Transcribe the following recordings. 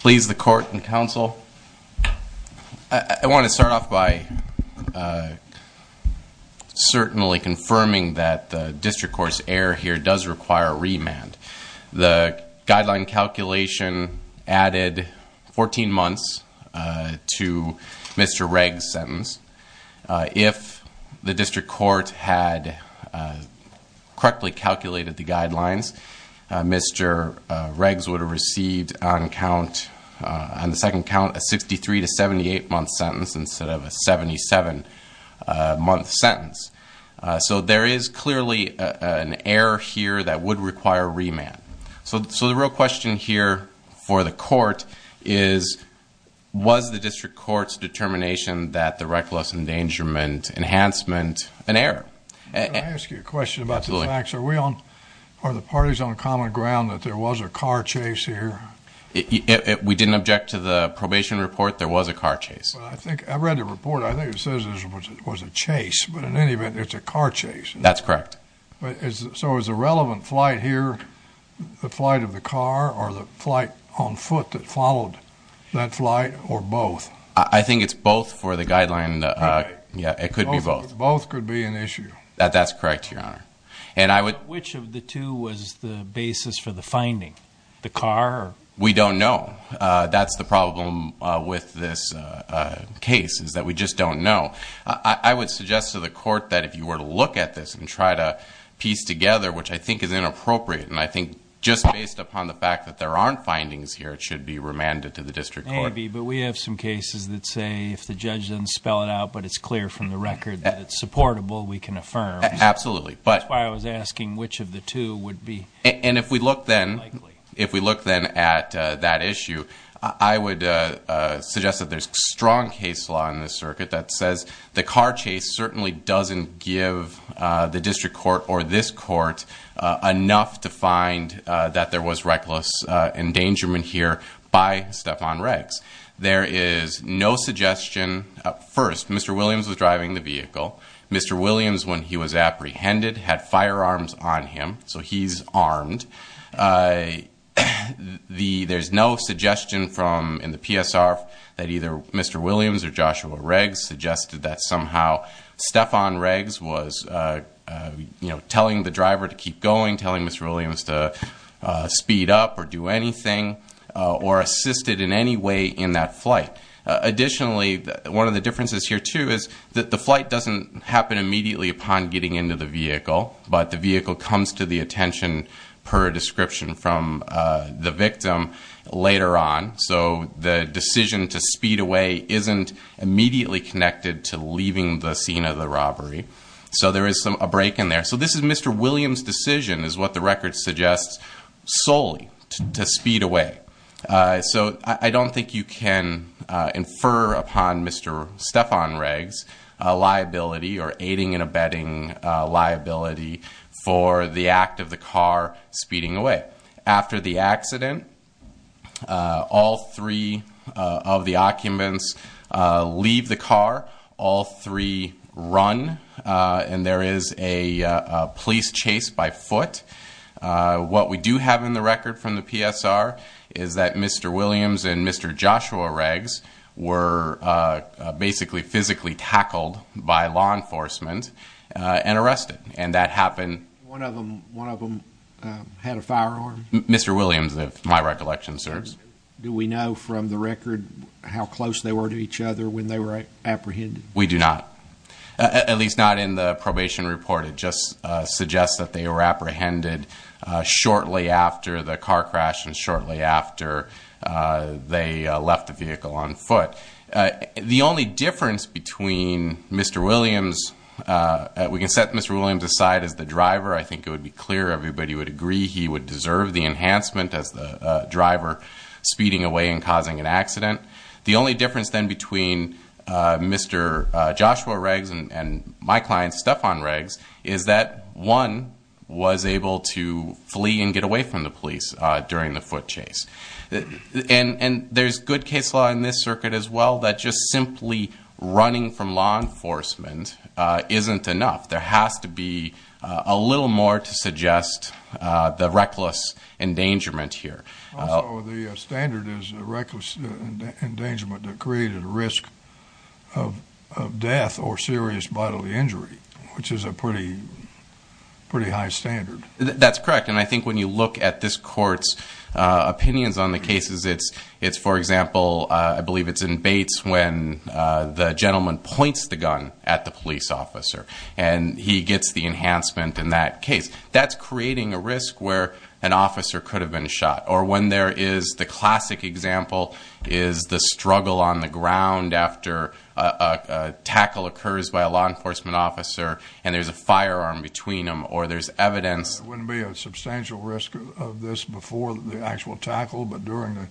Please, the court and counsel, I want to start off by certainly confirming that the district court's error here does require a remand. The guideline calculation added 14 months to Mr. Regg's sentence. If the district court had correctly calculated the guidelines, Mr. Regg's would have received on the second count a 63 to 78 month sentence instead of a 77 month sentence. So there is clearly an error here that would require a remand. So the real question here for the court is, was the district court's determination that the reckless endangerment enhancement an error? I ask you a question about the facts. Are the parties on common ground that there was a car chase here? We didn't object to the probation report. There was a car chase. I read the report. I think it says there was a chase. But in any event, it's a car chase. That's correct. So is the relevant flight here the flight of the car or the flight on foot that followed that flight or both? I think it's both for the guideline. It could be both. Both could be an issue. That's correct, Your Honor. Which of the two was the basis for the finding? The car? We don't know. That's the problem with this case is that we just don't know. I would suggest to the which I think is inappropriate. And I think just based upon the fact that there aren't findings here, it should be remanded to the district court. Maybe. But we have some cases that say if the judge doesn't spell it out, but it's clear from the record that it's supportable, we can affirm. Absolutely. That's why I was asking which of the two would be likely. And if we look then at that issue, I would suggest that there's strong case law in this circuit that says the car case certainly doesn't give the district court or this court enough to find that there was reckless endangerment here by Stephon Riggs. There is no suggestion. First, Mr. Williams was driving the vehicle. Mr. Williams, when he was apprehended, had firearms on him. So he's armed. There's no suggestion in the PSR that either Mr. Williams or Joshua Riggs suggested that somehow Stephon Riggs was telling the driver to keep going, telling Mr. Williams to speed up or do anything or assist it in any way in that flight. Additionally, one of the differences here, too, is that the flight doesn't happen immediately upon getting into the victim later on. So the decision to speed away isn't immediately connected to leaving the scene of the robbery. So there is a break in there. So this is Mr. Williams' decision, is what the record suggests, solely to speed away. So I don't think you can infer upon Mr. Stephon Riggs liability or aiding and abetting liability for the act of the car speeding away. After the accident, all three of the occupants leave the car. All three run. And there is a police chase by foot. What we do have in the record from the PSR is that Mr. Williams and Mr. Joshua Riggs were basically physically tackled by law enforcement and arrested. One of them had a firearm? Mr. Williams, if my recollection serves. Do we know from the record how close they were to each other when they were apprehended? We do not. At least not in the probation report. It just suggests that they were apprehended shortly after the car crash and shortly after they left the vehicle on foot. The only difference between Mr. Williams, we can set Mr. Williams aside as the driver. I think it would be clear everybody would agree he would deserve the enhancement as the driver speeding away and causing an accident. The only difference then between Mr. Joshua Riggs and my client, Stephon Riggs, is that one was able to flee and get away from the police during the foot chase. And there is good case law in this circuit as well that just simply running from law enforcement isn't enough. There has to be a little more to suggest the reckless endangerment here. Also, the standard is reckless endangerment that created risk of death or serious bodily injury, which is a pretty high standard. That's correct. And I think when you look at this court's opinions on the cases, it's, for example, I believe it's in Bates when the gentleman points the gun at the police officer and he gets the enhancement in that case. That's creating a risk where an officer could have been shot. Or when there is the classic example is the struggle on the ground after a tackle occurs by a law enforcement officer and there's a firearm between them or there's evidence. There wouldn't be a substantial risk of this before the actual tackle, but during the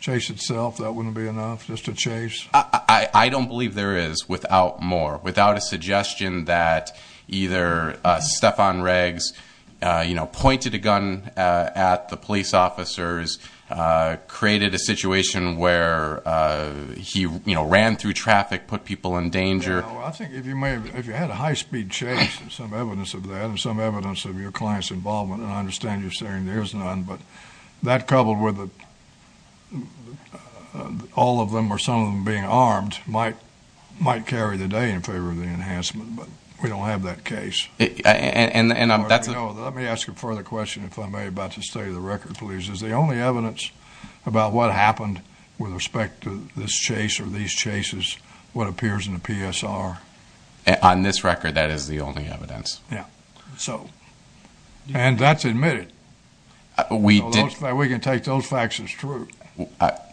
chase itself, that wouldn't be enough just to chase? I don't believe there is without more, without a suggestion that either Stephon Riggs pointed a gun at the police officers, created a situation where he ran through traffic, put people in danger. I think if you had a high speed chase and some evidence of that and some evidence of your client's involvement, and I understand you're saying there's none, but that coupled with all of them or some of them being armed might carry the day in favor of the enhancement, but we don't have that case. Let me ask a further question, if I may, about the state of the record, please. Is the only evidence about what happened with respect to this chase or these chases what appears in the PSR? On this record, that is the only evidence. Yeah. And that's admitted. We can take those facts as true.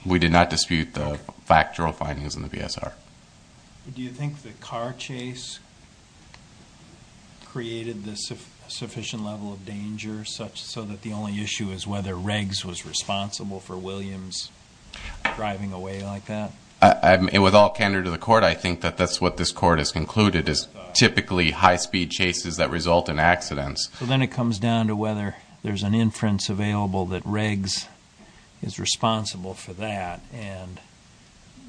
We did not dispute the factual findings in the PSR. Do you think the car chase created the sufficient level of danger so that the only issue is whether Riggs was responsible for Williams driving away like that? With all candor to the court, I think that that's what this court has concluded, is typically high speed chases that result in accidents. So then it comes down to whether there's an inference available that Riggs is responsible for that and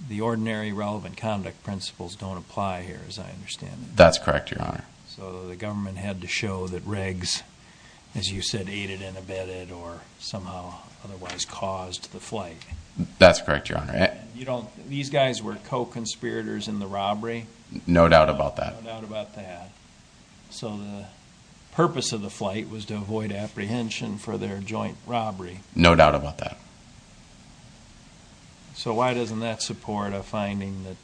the ordinary relevant conduct principles don't apply here, as I understand it. That's correct, Your Honor. So the government had to show that Riggs, as you said, aided and abetted or somehow otherwise caused the flight. That's correct, Your Honor. These guys were co-conspirators in the robbery? No doubt about that. So the purpose of the flight was to avoid apprehension for their joint robbery? No doubt about that. So why doesn't that support a finding that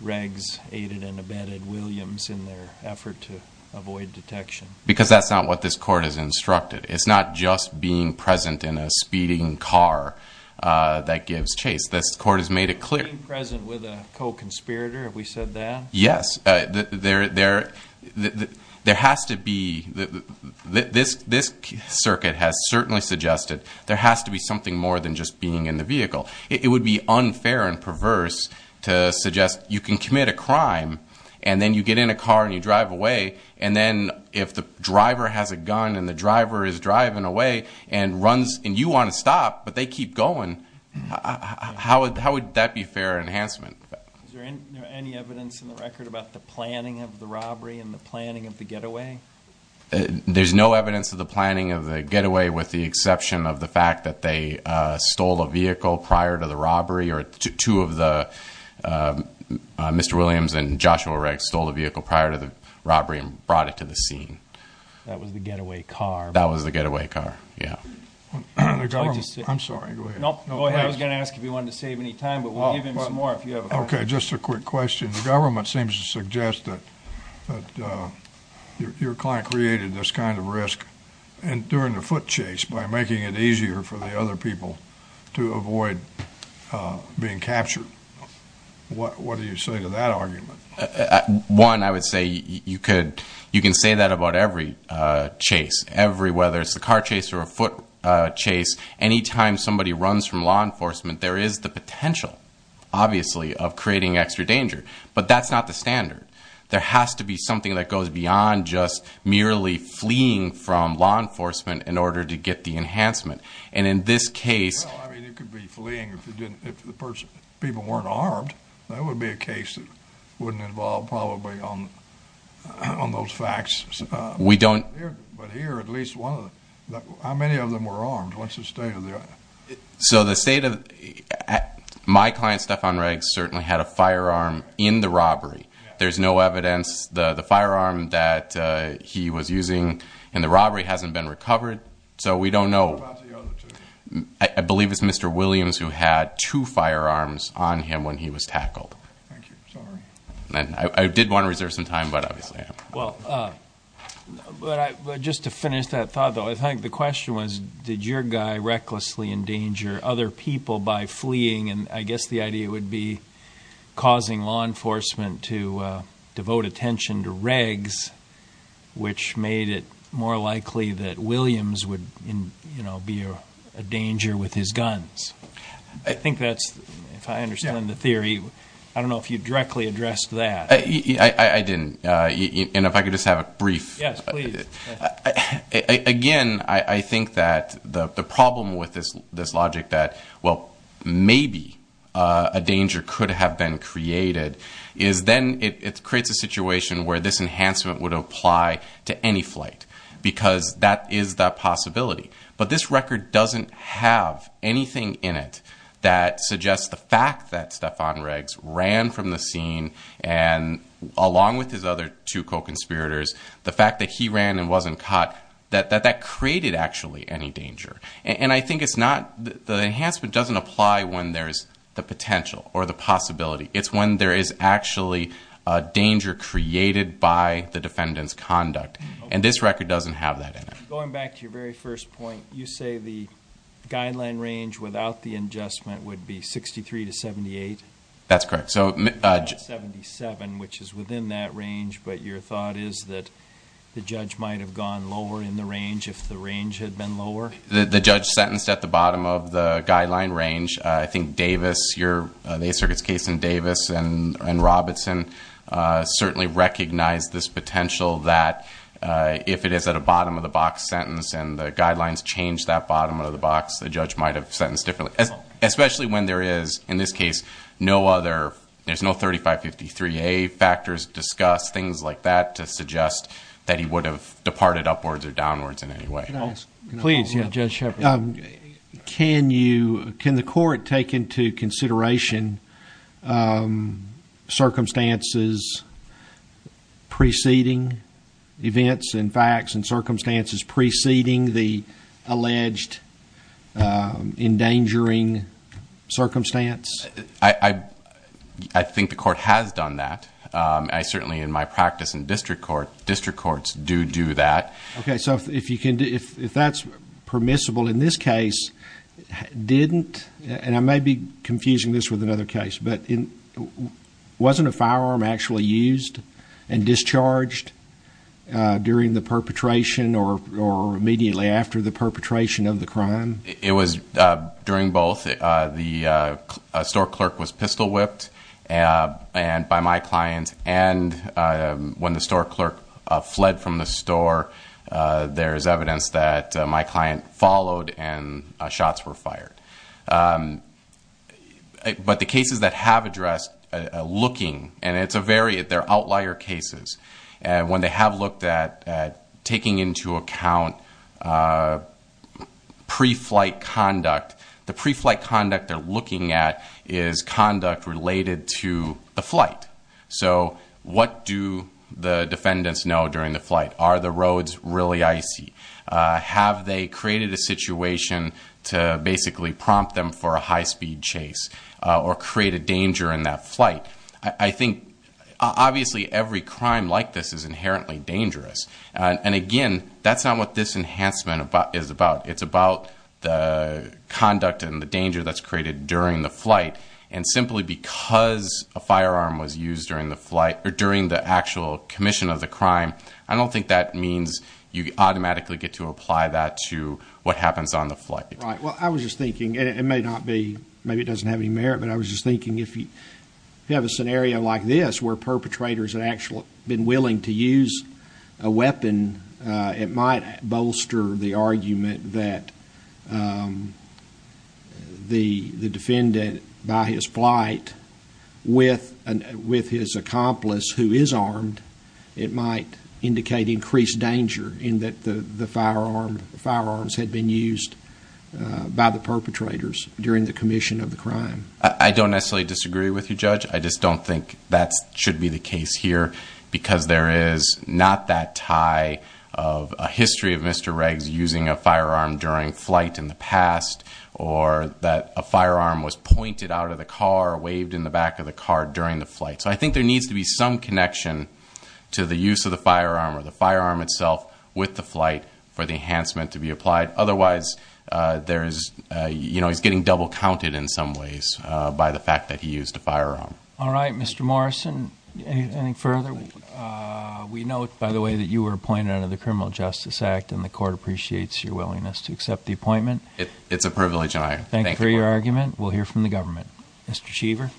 Riggs aided and abetted Williams in their effort to avoid detection? Because that's not what this court has instructed. It's not just being present in a speeding car that gives chase. This court has made it clear. Being present with a co-conspirator, have we said that? Yes. There has to be. This circuit has certainly suggested there has to be something more than just being in the vehicle. It would be unfair and perverse to suggest you can commit a crime and then you get in a car and you drive away, and then if the driver has a gun and the driver is driving away and runs and you want to stop but they keep going, how would that be fair enhancement? Is there any evidence in the record about the planning of the robbery and the planning of the getaway? There's no evidence of the planning of the getaway with the exception of the fact that they stole a vehicle prior to the robbery or two of the, Mr. Williams and Joshua Riggs stole a vehicle prior to the robbery and brought it to the scene. That was the getaway car. That was the getaway car, yeah. I'm sorry, go ahead. I was going to ask if you wanted to save any time, but we'll give him some more if you have a question. Okay, just a quick question. The government seems to suggest that your client created this kind of risk during the foot chase by making it easier for the other people to avoid being captured. What do you say to that argument? One, I would say you can say that about every chase, whether it's the car chase or a foot chase. Any time somebody runs from law enforcement, there is the potential, obviously, of creating extra danger. But that's not the standard. There has to be something that goes beyond just merely fleeing from law enforcement in order to get the enhancement. And in this case, Well, I mean, you could be fleeing if the people weren't armed. That would be a case that wouldn't involve probably on those facts. We don't But here, at least one of them, how many of them were armed? What's the state of the other? So the state of, my client, Stephan Riggs, certainly had a firearm in the robbery. There's no evidence. The firearm that he was using in the robbery hasn't been recovered. So we don't know. What about the other two? I believe it's Mr. Williams who had two firearms on him when he was tackled. Thank you. Sorry. I did want to reserve some time, but obviously I haven't. Well, just to finish that thought, though, I think the question was did your guy recklessly endanger other people by fleeing? And I guess the idea would be causing law enforcement to devote attention to Riggs, which made it more likely that Williams would be a danger with his guns. I think that's, if I understand the theory, I don't know if you directly addressed that. I didn't. And if I could just have a brief. Yes, please. Again, I think that the problem with this logic that, well, maybe a danger could have been created, is then it creates a situation where this enhancement would apply to any flight because that is the possibility. But this record doesn't have anything in it that suggests the fact that Stephan Riggs ran from the scene and along with his other two co-conspirators, the fact that he ran and wasn't caught, that that created actually any danger. And I think it's not the enhancement doesn't apply when there's the potential or the possibility. It's when there is actually a danger created by the defendant's conduct. And this record doesn't have that in it. Going back to your very first point, you say the guideline range without the adjustment would be 63 to 78? That's correct. 77, which is within that range. But your thought is that the judge might have gone lower in the range if the range had been lower? The judge sentenced at the bottom of the guideline range. I think Davis, the Ace Circuit's case in Davis and Robinson, certainly recognized this potential that if it is at a bottom-of-the-box sentence and the guidelines change that bottom-of-the-box, the judge might have sentenced differently. Especially when there is, in this case, no other, there's no 3553A factors discussed, things like that, to suggest that he would have departed upwards or downwards in any way. Please, Judge Shepard. Can you, can the court take into consideration circumstances preceding events and facts and circumstances preceding the alleged endangering circumstance? I think the court has done that. I certainly, in my practice in district court, district courts do do that. Okay, so if you can, if that's permissible, in this case, didn't, and I may be confusing this with another case, but wasn't a firearm actually used and discharged during the perpetration or immediately after the perpetration of the crime? It was during both. The store clerk was pistol-whipped by my client, and when the store clerk fled from the store, there's evidence that my client followed and shots were fired. But the cases that have addressed looking, and it's a very, they're outlier cases, and when they have looked at taking into account pre-flight conduct, the pre-flight conduct they're looking at is conduct related to the flight. So what do the defendants know during the flight? Are the roads really icy? Have they created a situation to basically prompt them for a high-speed chase or create a danger in that flight? I think, obviously, every crime like this is inherently dangerous, and, again, that's not what this enhancement is about. It's about the conduct and the danger that's created during the flight, and simply because a firearm was used during the flight, or during the actual commission of the crime, I don't think that means you automatically get to apply that to what happens on the flight. Right. Well, I was just thinking, and it may not be, maybe it doesn't have any merit, but I was just thinking if you have a scenario like this where perpetrators have actually been willing to use a weapon, it might bolster the argument that the defendant, by his flight, with his accomplice who is armed, it might indicate increased danger in that the firearms had been used by the perpetrators during the commission of the crime. I don't necessarily disagree with you, Judge. I just don't think that should be the case here, because there is not that tie of a history of Mr. Regs using a firearm during flight in the past or that a firearm was pointed out of the car or waved in the back of the car during the flight. So I think there needs to be some connection to the use of the firearm or the firearm itself with the flight for the enhancement to be applied. Otherwise, he's getting double counted in some ways by the fact that he used a firearm. All right. Mr. Morrison, any further? We note, by the way, that you were appointed under the Criminal Justice Act, and the court appreciates your willingness to accept the appointment. It's a privilege I have. Thank you for your argument. We'll hear from the government. Mr. Cheever.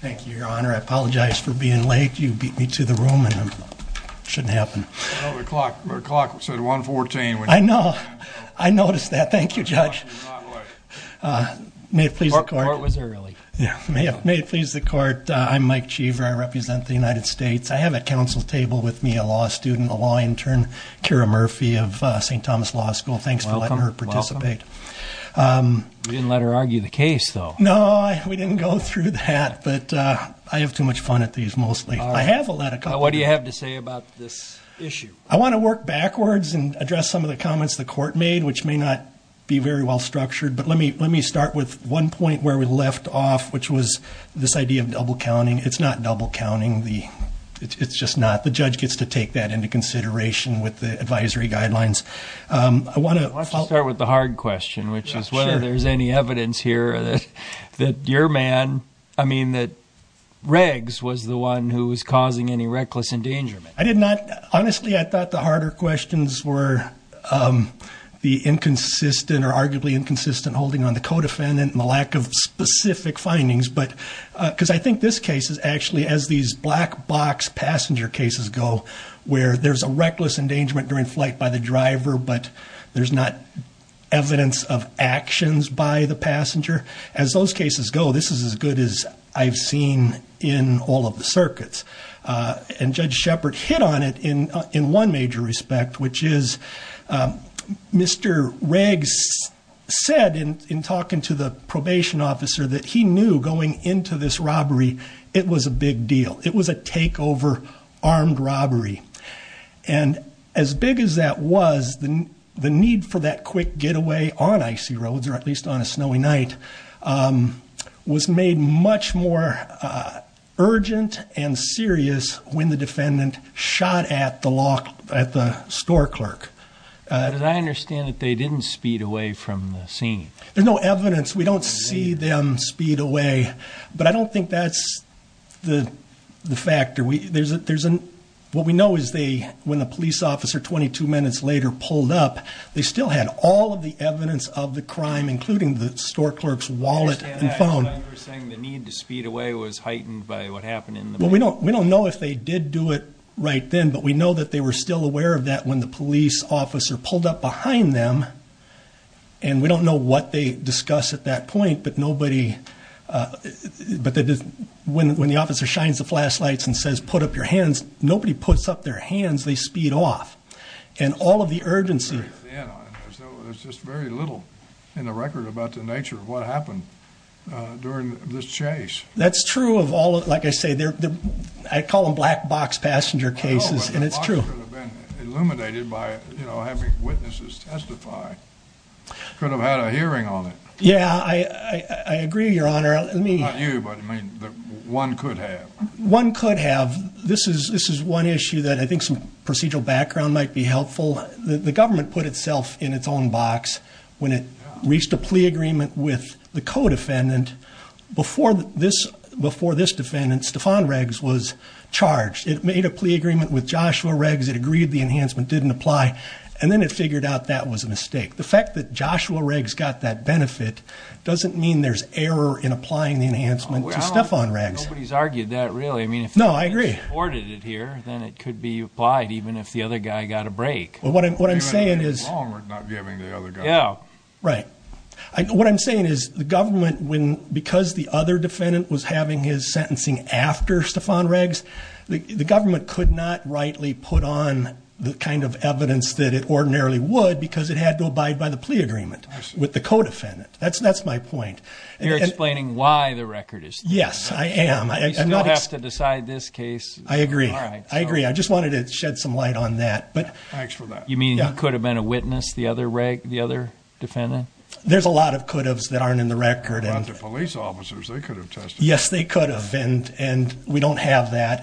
Thank you, Your Honor. I apologize for being late. You beat me to the room, and it shouldn't happen. The clock said 1.14. I know. I noticed that. Thank you, Judge. May it please the court. The court was early. May it please the court. I'm Mike Cheever. I represent the United States. I have at counsel's table with me a law student, a law intern, Kara Murphy of St. Thomas Law School. Thanks for letting her participate. You didn't let her argue the case, though. No, we didn't go through that. But I have too much fun at these, mostly. I have a lot of fun. What do you have to say about this issue? I want to work backwards and address some of the comments the court made, which may not be very well structured. But let me start with one point where we left off, which was this idea of double counting. It's not double counting. It's just not. The judge gets to take that into consideration with the advisory guidelines. Let's start with the hard question, which is whether there's any evidence here that your man, I mean that Riggs was the one who was causing any reckless endangerment. I did not. Honestly, I thought the harder questions were the inconsistent or arguably inconsistent holding on the co-defendant and the lack of specific findings. Because I think this case is actually, as these black box passenger cases go, where there's a reckless endangerment during flight by the driver, but there's not evidence of actions by the passenger. As those cases go, this is as good as I've seen in all of the circuits. And Judge Shepard hit on it in one major respect, which is Mr. Riggs said in talking to the probation officer that he knew going into this robbery it was a big deal. It was a takeover armed robbery. And as big as that was, the need for that quick getaway on icy roads, or at least on a snowy night, was made much more urgent and serious when the defendant shot at the store clerk. But I understand that they didn't speed away from the scene. There's no evidence. We don't see them speed away. But I don't think that's the factor. What we know is when the police officer 22 minutes later pulled up, they still had all of the evidence of the crime, including the store clerk's wallet and phone. You're saying the need to speed away was heightened by what happened in the back? Well, we don't know if they did do it right then, but we know that they were still aware of that when the police officer pulled up behind them. And we don't know what they discuss at that point, but when the officer shines the flashlights and says, put up your hands, nobody puts up their hands. They speed off. And all of the urgency. There's just very little in the record about the nature of what happened during this chase. That's true of all of it. Like I say, I call them black box passenger cases, and it's true. Illuminated by having witnesses testify. Could have had a hearing on it. Yeah, I agree, Your Honor. Not you, but one could have. One could have. This is one issue that I think some procedural background might be helpful. The government put itself in its own box when it reached a plea agreement with the co-defendant. Before this defendant, Stefan Riggs, was charged. It made a plea agreement with Joshua Riggs. It agreed the enhancement didn't apply. And then it figured out that was a mistake. The fact that Joshua Riggs got that benefit doesn't mean there's error in applying the enhancement to Stefan Riggs. Nobody's argued that, really. No, I agree. If he supported it here, then it could be applied, even if the other guy got a break. What I'm saying is the government, because the other defendant was having his sentencing after Stefan Riggs, the government could not rightly put on the kind of evidence that it ordinarily would because it had to abide by the plea agreement with the co-defendant. That's my point. You're explaining why the record is there. Yes, I am. You still have to decide this case. I agree. I agree. I just wanted to shed some light on that. Thanks for that. You mean he could have been a witness, the other defendant? There's a lot of could-haves that aren't in the record. The police officers, they could have testified. Yes, they could have. We don't have that.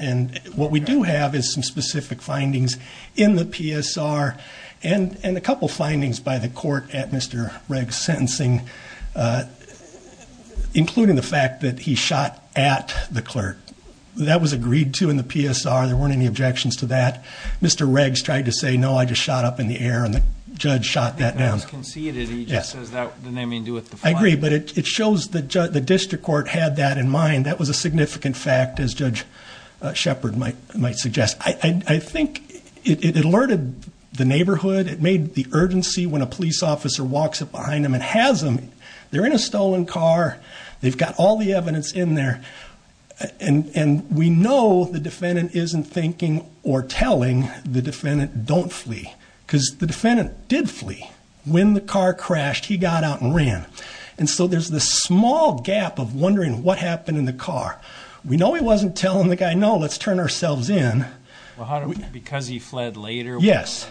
What we do have is some specific findings in the PSR and a couple of findings by the court at Mr. Riggs' sentencing, including the fact that he shot at the clerk. That was agreed to in the PSR. There weren't any objections to that. Mr. Riggs tried to say, no, I just shot up in the air, and the judge shot that down. It was conceded. He just says that didn't have anything to do with the fine. I agree, but it shows the district court had that in mind. That was a significant fact, as Judge Shepard might suggest. I think it alerted the neighborhood. It made the urgency when a police officer walks up behind them and has them. They're in a stolen car. They've got all the evidence in there. And we know the defendant isn't thinking or telling the defendant, don't flee, because the defendant did flee. When the car crashed, he got out and ran. And so there's this small gap of wondering what happened in the car. We know he wasn't telling the guy, no, let's turn ourselves in. Because he fled later? Yes.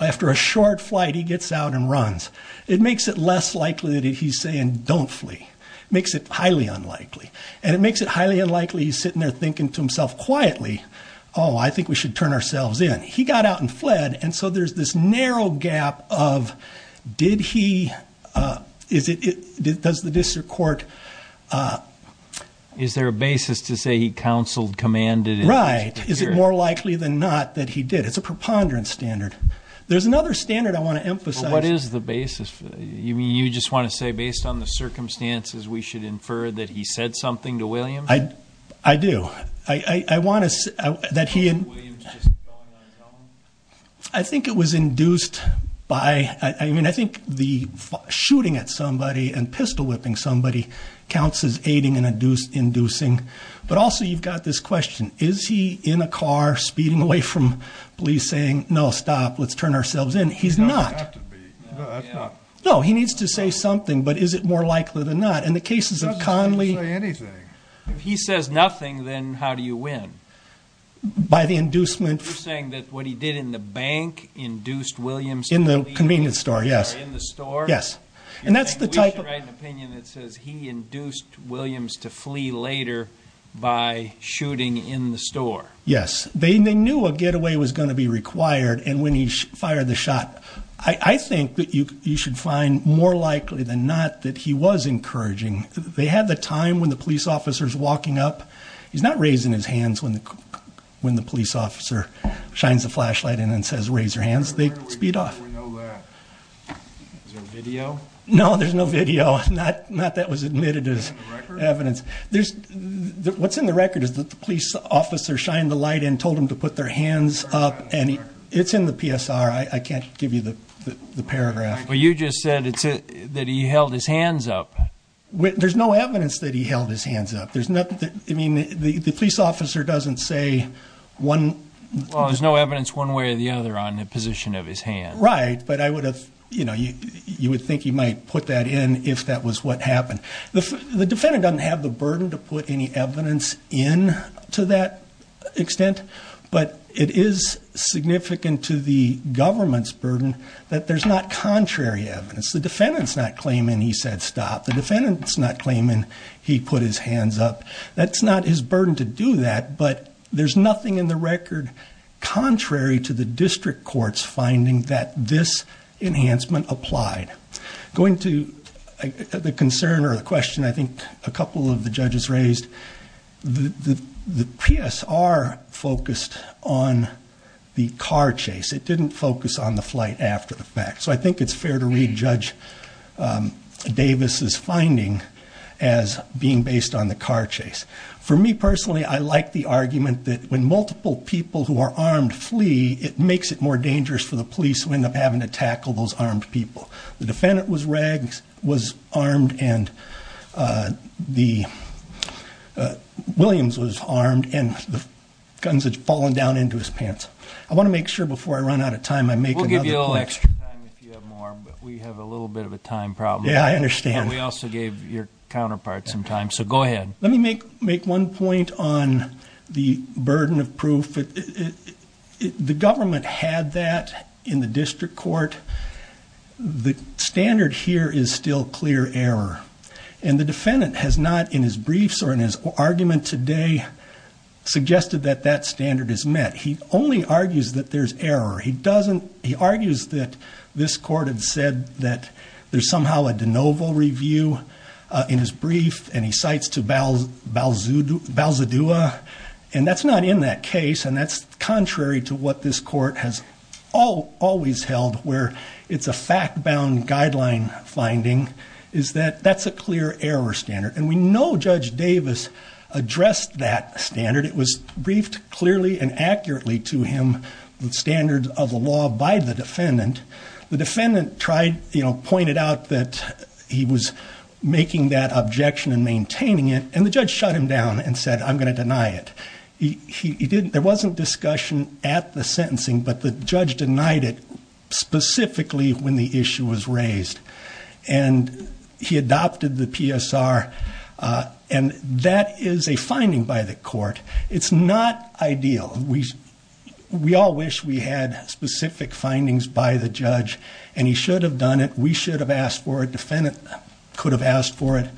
After a short flight, he gets out and runs. It makes it less likely that he's saying, don't flee. It makes it highly unlikely. And it makes it highly unlikely he's sitting there thinking to himself quietly, oh, I think we should turn ourselves in. He got out and fled. And so there's this narrow gap of did he, does the district court- Is there a basis to say he counseled, commanded? Right. Is it more likely than not that he did? It's a preponderance standard. There's another standard I want to emphasize. What is the basis? You just want to say based on the circumstances, we should infer that he said something to William? I do. I want to say that he- William's just going on his own? I think it was induced by, I mean, I think the shooting at somebody and pistol whipping somebody counts as aiding and inducing. But also you've got this question, is he in a car speeding away from police saying, no, stop, let's turn ourselves in? He's not. He doesn't have to be. No, he needs to say something. But is it more likely than not? In the cases of Conley- He doesn't seem to say anything. If he says nothing, then how do you win? By the inducement- You're saying that what he did in the bank induced William to flee- In the convenience store, yes. In the store? Yes. And that's the type of- Do you think we should write an opinion that says he induced William to flee later by shooting in the store? Yes. They knew a getaway was going to be required, and when he fired the shot- I think that you should find more likely than not that he was encouraging. They had the time when the police officer's walking up. He's not raising his hands when the police officer shines the flashlight in and says, raise your hands. They speed off. We know that. Is there a video? No, there's no video. Not that was admitted as evidence. What's in the record is that the police officer shined the light in, told him to put their hands up, and it's in the PSR. I can't give you the paragraph. Well, you just said that he held his hands up. There's no evidence that he held his hands up. I mean, the police officer doesn't say one- Well, there's no evidence one way or the other on the position of his hands. Right, but you would think he might put that in if that was what happened. The defendant doesn't have the burden to put any evidence in to that extent, but it is significant to the government's burden that there's not contrary evidence. The defendant's not claiming he said stop. The defendant's not claiming he put his hands up. That's not his burden to do that, but there's nothing in the record contrary to the district court's finding that this enhancement applied. Going to the concern or the question I think a couple of the judges raised, the PSR focused on the car chase. It didn't focus on the flight after the fact. So I think it's fair to read Judge Davis' finding as being based on the car chase. For me personally, I like the argument that when multiple people who are armed flee, it makes it more dangerous for the police who end up having to tackle those armed people. The defendant was armed and the- Williams was armed and the guns had fallen down into his pants. I want to make sure before I run out of time I make- We have a little bit of a time problem. Yeah, I understand. We also gave your counterpart some time, so go ahead. Let me make one point on the burden of proof. The government had that in the district court. The standard here is still clear error, and the defendant has not in his briefs or in his argument today suggested that that standard is met. He only argues that there's error. He argues that this court had said that there's somehow a de novo review in his brief, and he cites to Balzadua, and that's not in that case, and that's contrary to what this court has always held, where it's a fact-bound guideline finding, is that that's a clear error standard. And we know Judge Davis addressed that standard. It was briefed clearly and accurately to him, the standards of the law by the defendant. The defendant tried, you know, pointed out that he was making that objection and maintaining it, and the judge shut him down and said, I'm going to deny it. There wasn't discussion at the sentencing, but the judge denied it specifically when the issue was raised, and he adopted the PSR, and that is a finding by the court. It's not ideal. We all wish we had specific findings by the judge, and he should have done it. We should have asked for it. Defendant could have asked for it.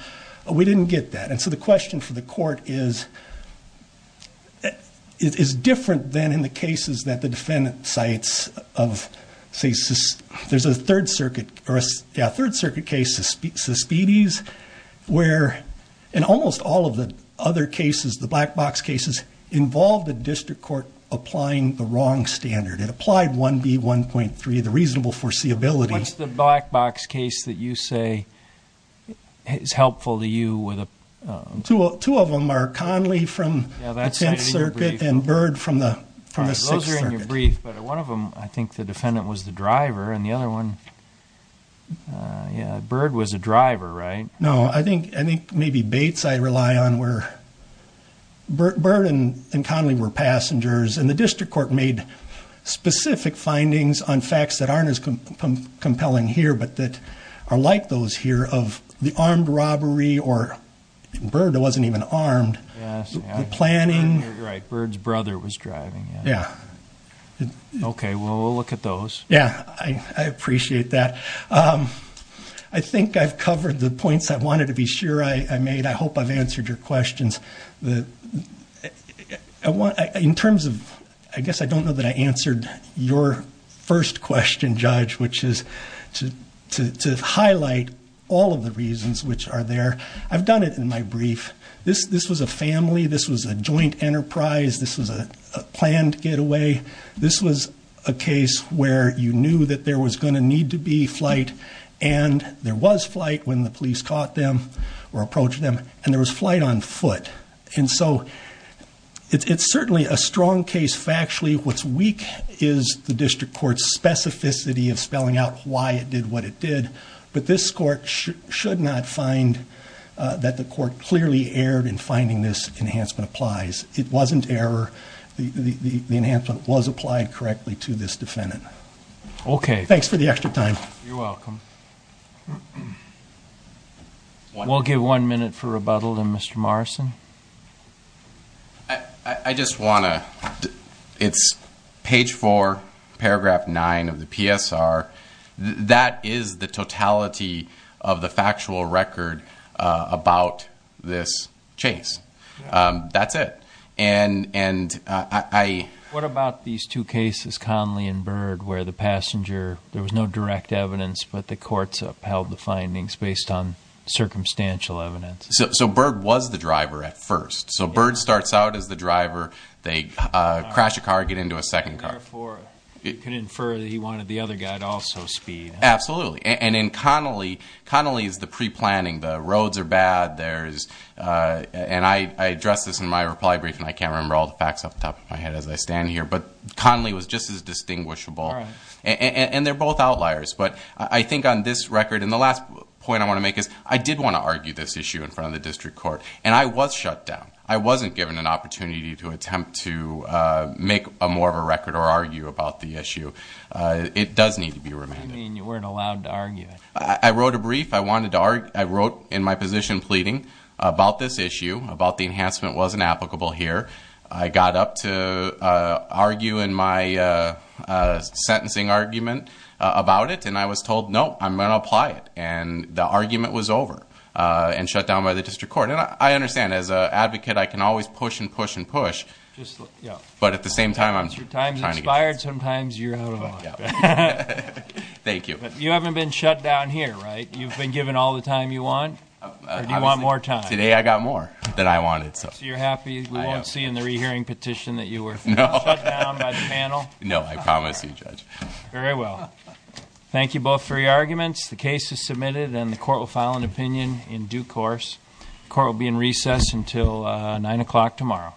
We didn't get that, and so the question for the court is different than in the cases that the defendant cites of, say, there's a Third Circuit case, Suspedes, where in almost all of the other cases, the black box cases involved the district court applying the wrong standard. It applied 1B1.3, the reasonable foreseeability. What's the black box case that you say is helpful to you? Two of them are Conley from the Tenth Circuit and Bird from the Sixth Circuit. One of them, I think the defendant was the driver, and the other one, yeah, Bird was a driver, right? No, I think maybe Bates I rely on were. Bird and Conley were passengers, and the district court made specific findings on facts that aren't as compelling here but that are like those here of the armed robbery, or Bird wasn't even armed, the planning. Right, Bird's brother was driving. Yeah. Okay, well, we'll look at those. Yeah, I appreciate that. I think I've covered the points I wanted to be sure I made. I hope I've answered your questions. In terms of, I guess I don't know that I answered your first question, Judge, which is to highlight all of the reasons which are there, I've done it in my brief. This was a family. This was a joint enterprise. This was a planned getaway. This was a case where you knew that there was going to need to be flight, and there was flight when the police caught them or approached them, and there was flight on foot. And so it's certainly a strong case factually. What's weak is the district court's specificity of spelling out why it did what it did, but this court should not find that the court clearly erred in finding this enhancement applies. It wasn't error. The enhancement was applied correctly to this defendant. Okay. Thanks for the extra time. You're welcome. We'll give one minute for rebuttal, then, Mr. Morrison. I just want to, it's page 4, paragraph 9 of the PSR. That is the totality of the factual record about this chase. That's it. What about these two cases, Conley and Byrd, where the passenger, there was no direct evidence, but the courts upheld the findings based on circumstantial evidence? So Byrd was the driver at first. So Byrd starts out as the driver. They crash a car, get into a second car. Therefore, you can infer that he wanted the other guy to also speed. Absolutely. And in Conley, Conley is the pre-planning. The roads are bad. And I addressed this in my reply brief, and I can't remember all the facts off the top of my head as I stand here. But Conley was just as distinguishable. And they're both outliers. But I think on this record, and the last point I want to make is I did want to argue this issue in front of the district court, and I was shut down. I wasn't given an opportunity to attempt to make more of a record or argue about the issue. It does need to be remanded. You mean you weren't allowed to argue it. I wrote a brief. I wrote in my position pleading about this issue, about the enhancement wasn't applicable here. I got up to argue in my sentencing argument about it, and I was told, no, I'm going to apply it. And the argument was over and shut down by the district court. I understand, as an advocate, I can always push and push and push. But at the same time, I'm trying to get- Your time's expired. Sometimes you're out of luck. Thank you. You haven't been shut down here, right? You've been given all the time you want? Or do you want more time? Today I got more than I wanted. So you're happy we won't see in the rehearing petition that you were shut down by the panel? No, I promise you, Judge. Very well. Thank you both for your arguments. The case is submitted, and the court will file an opinion in due course. The court will be in recess until 9 o'clock tomorrow.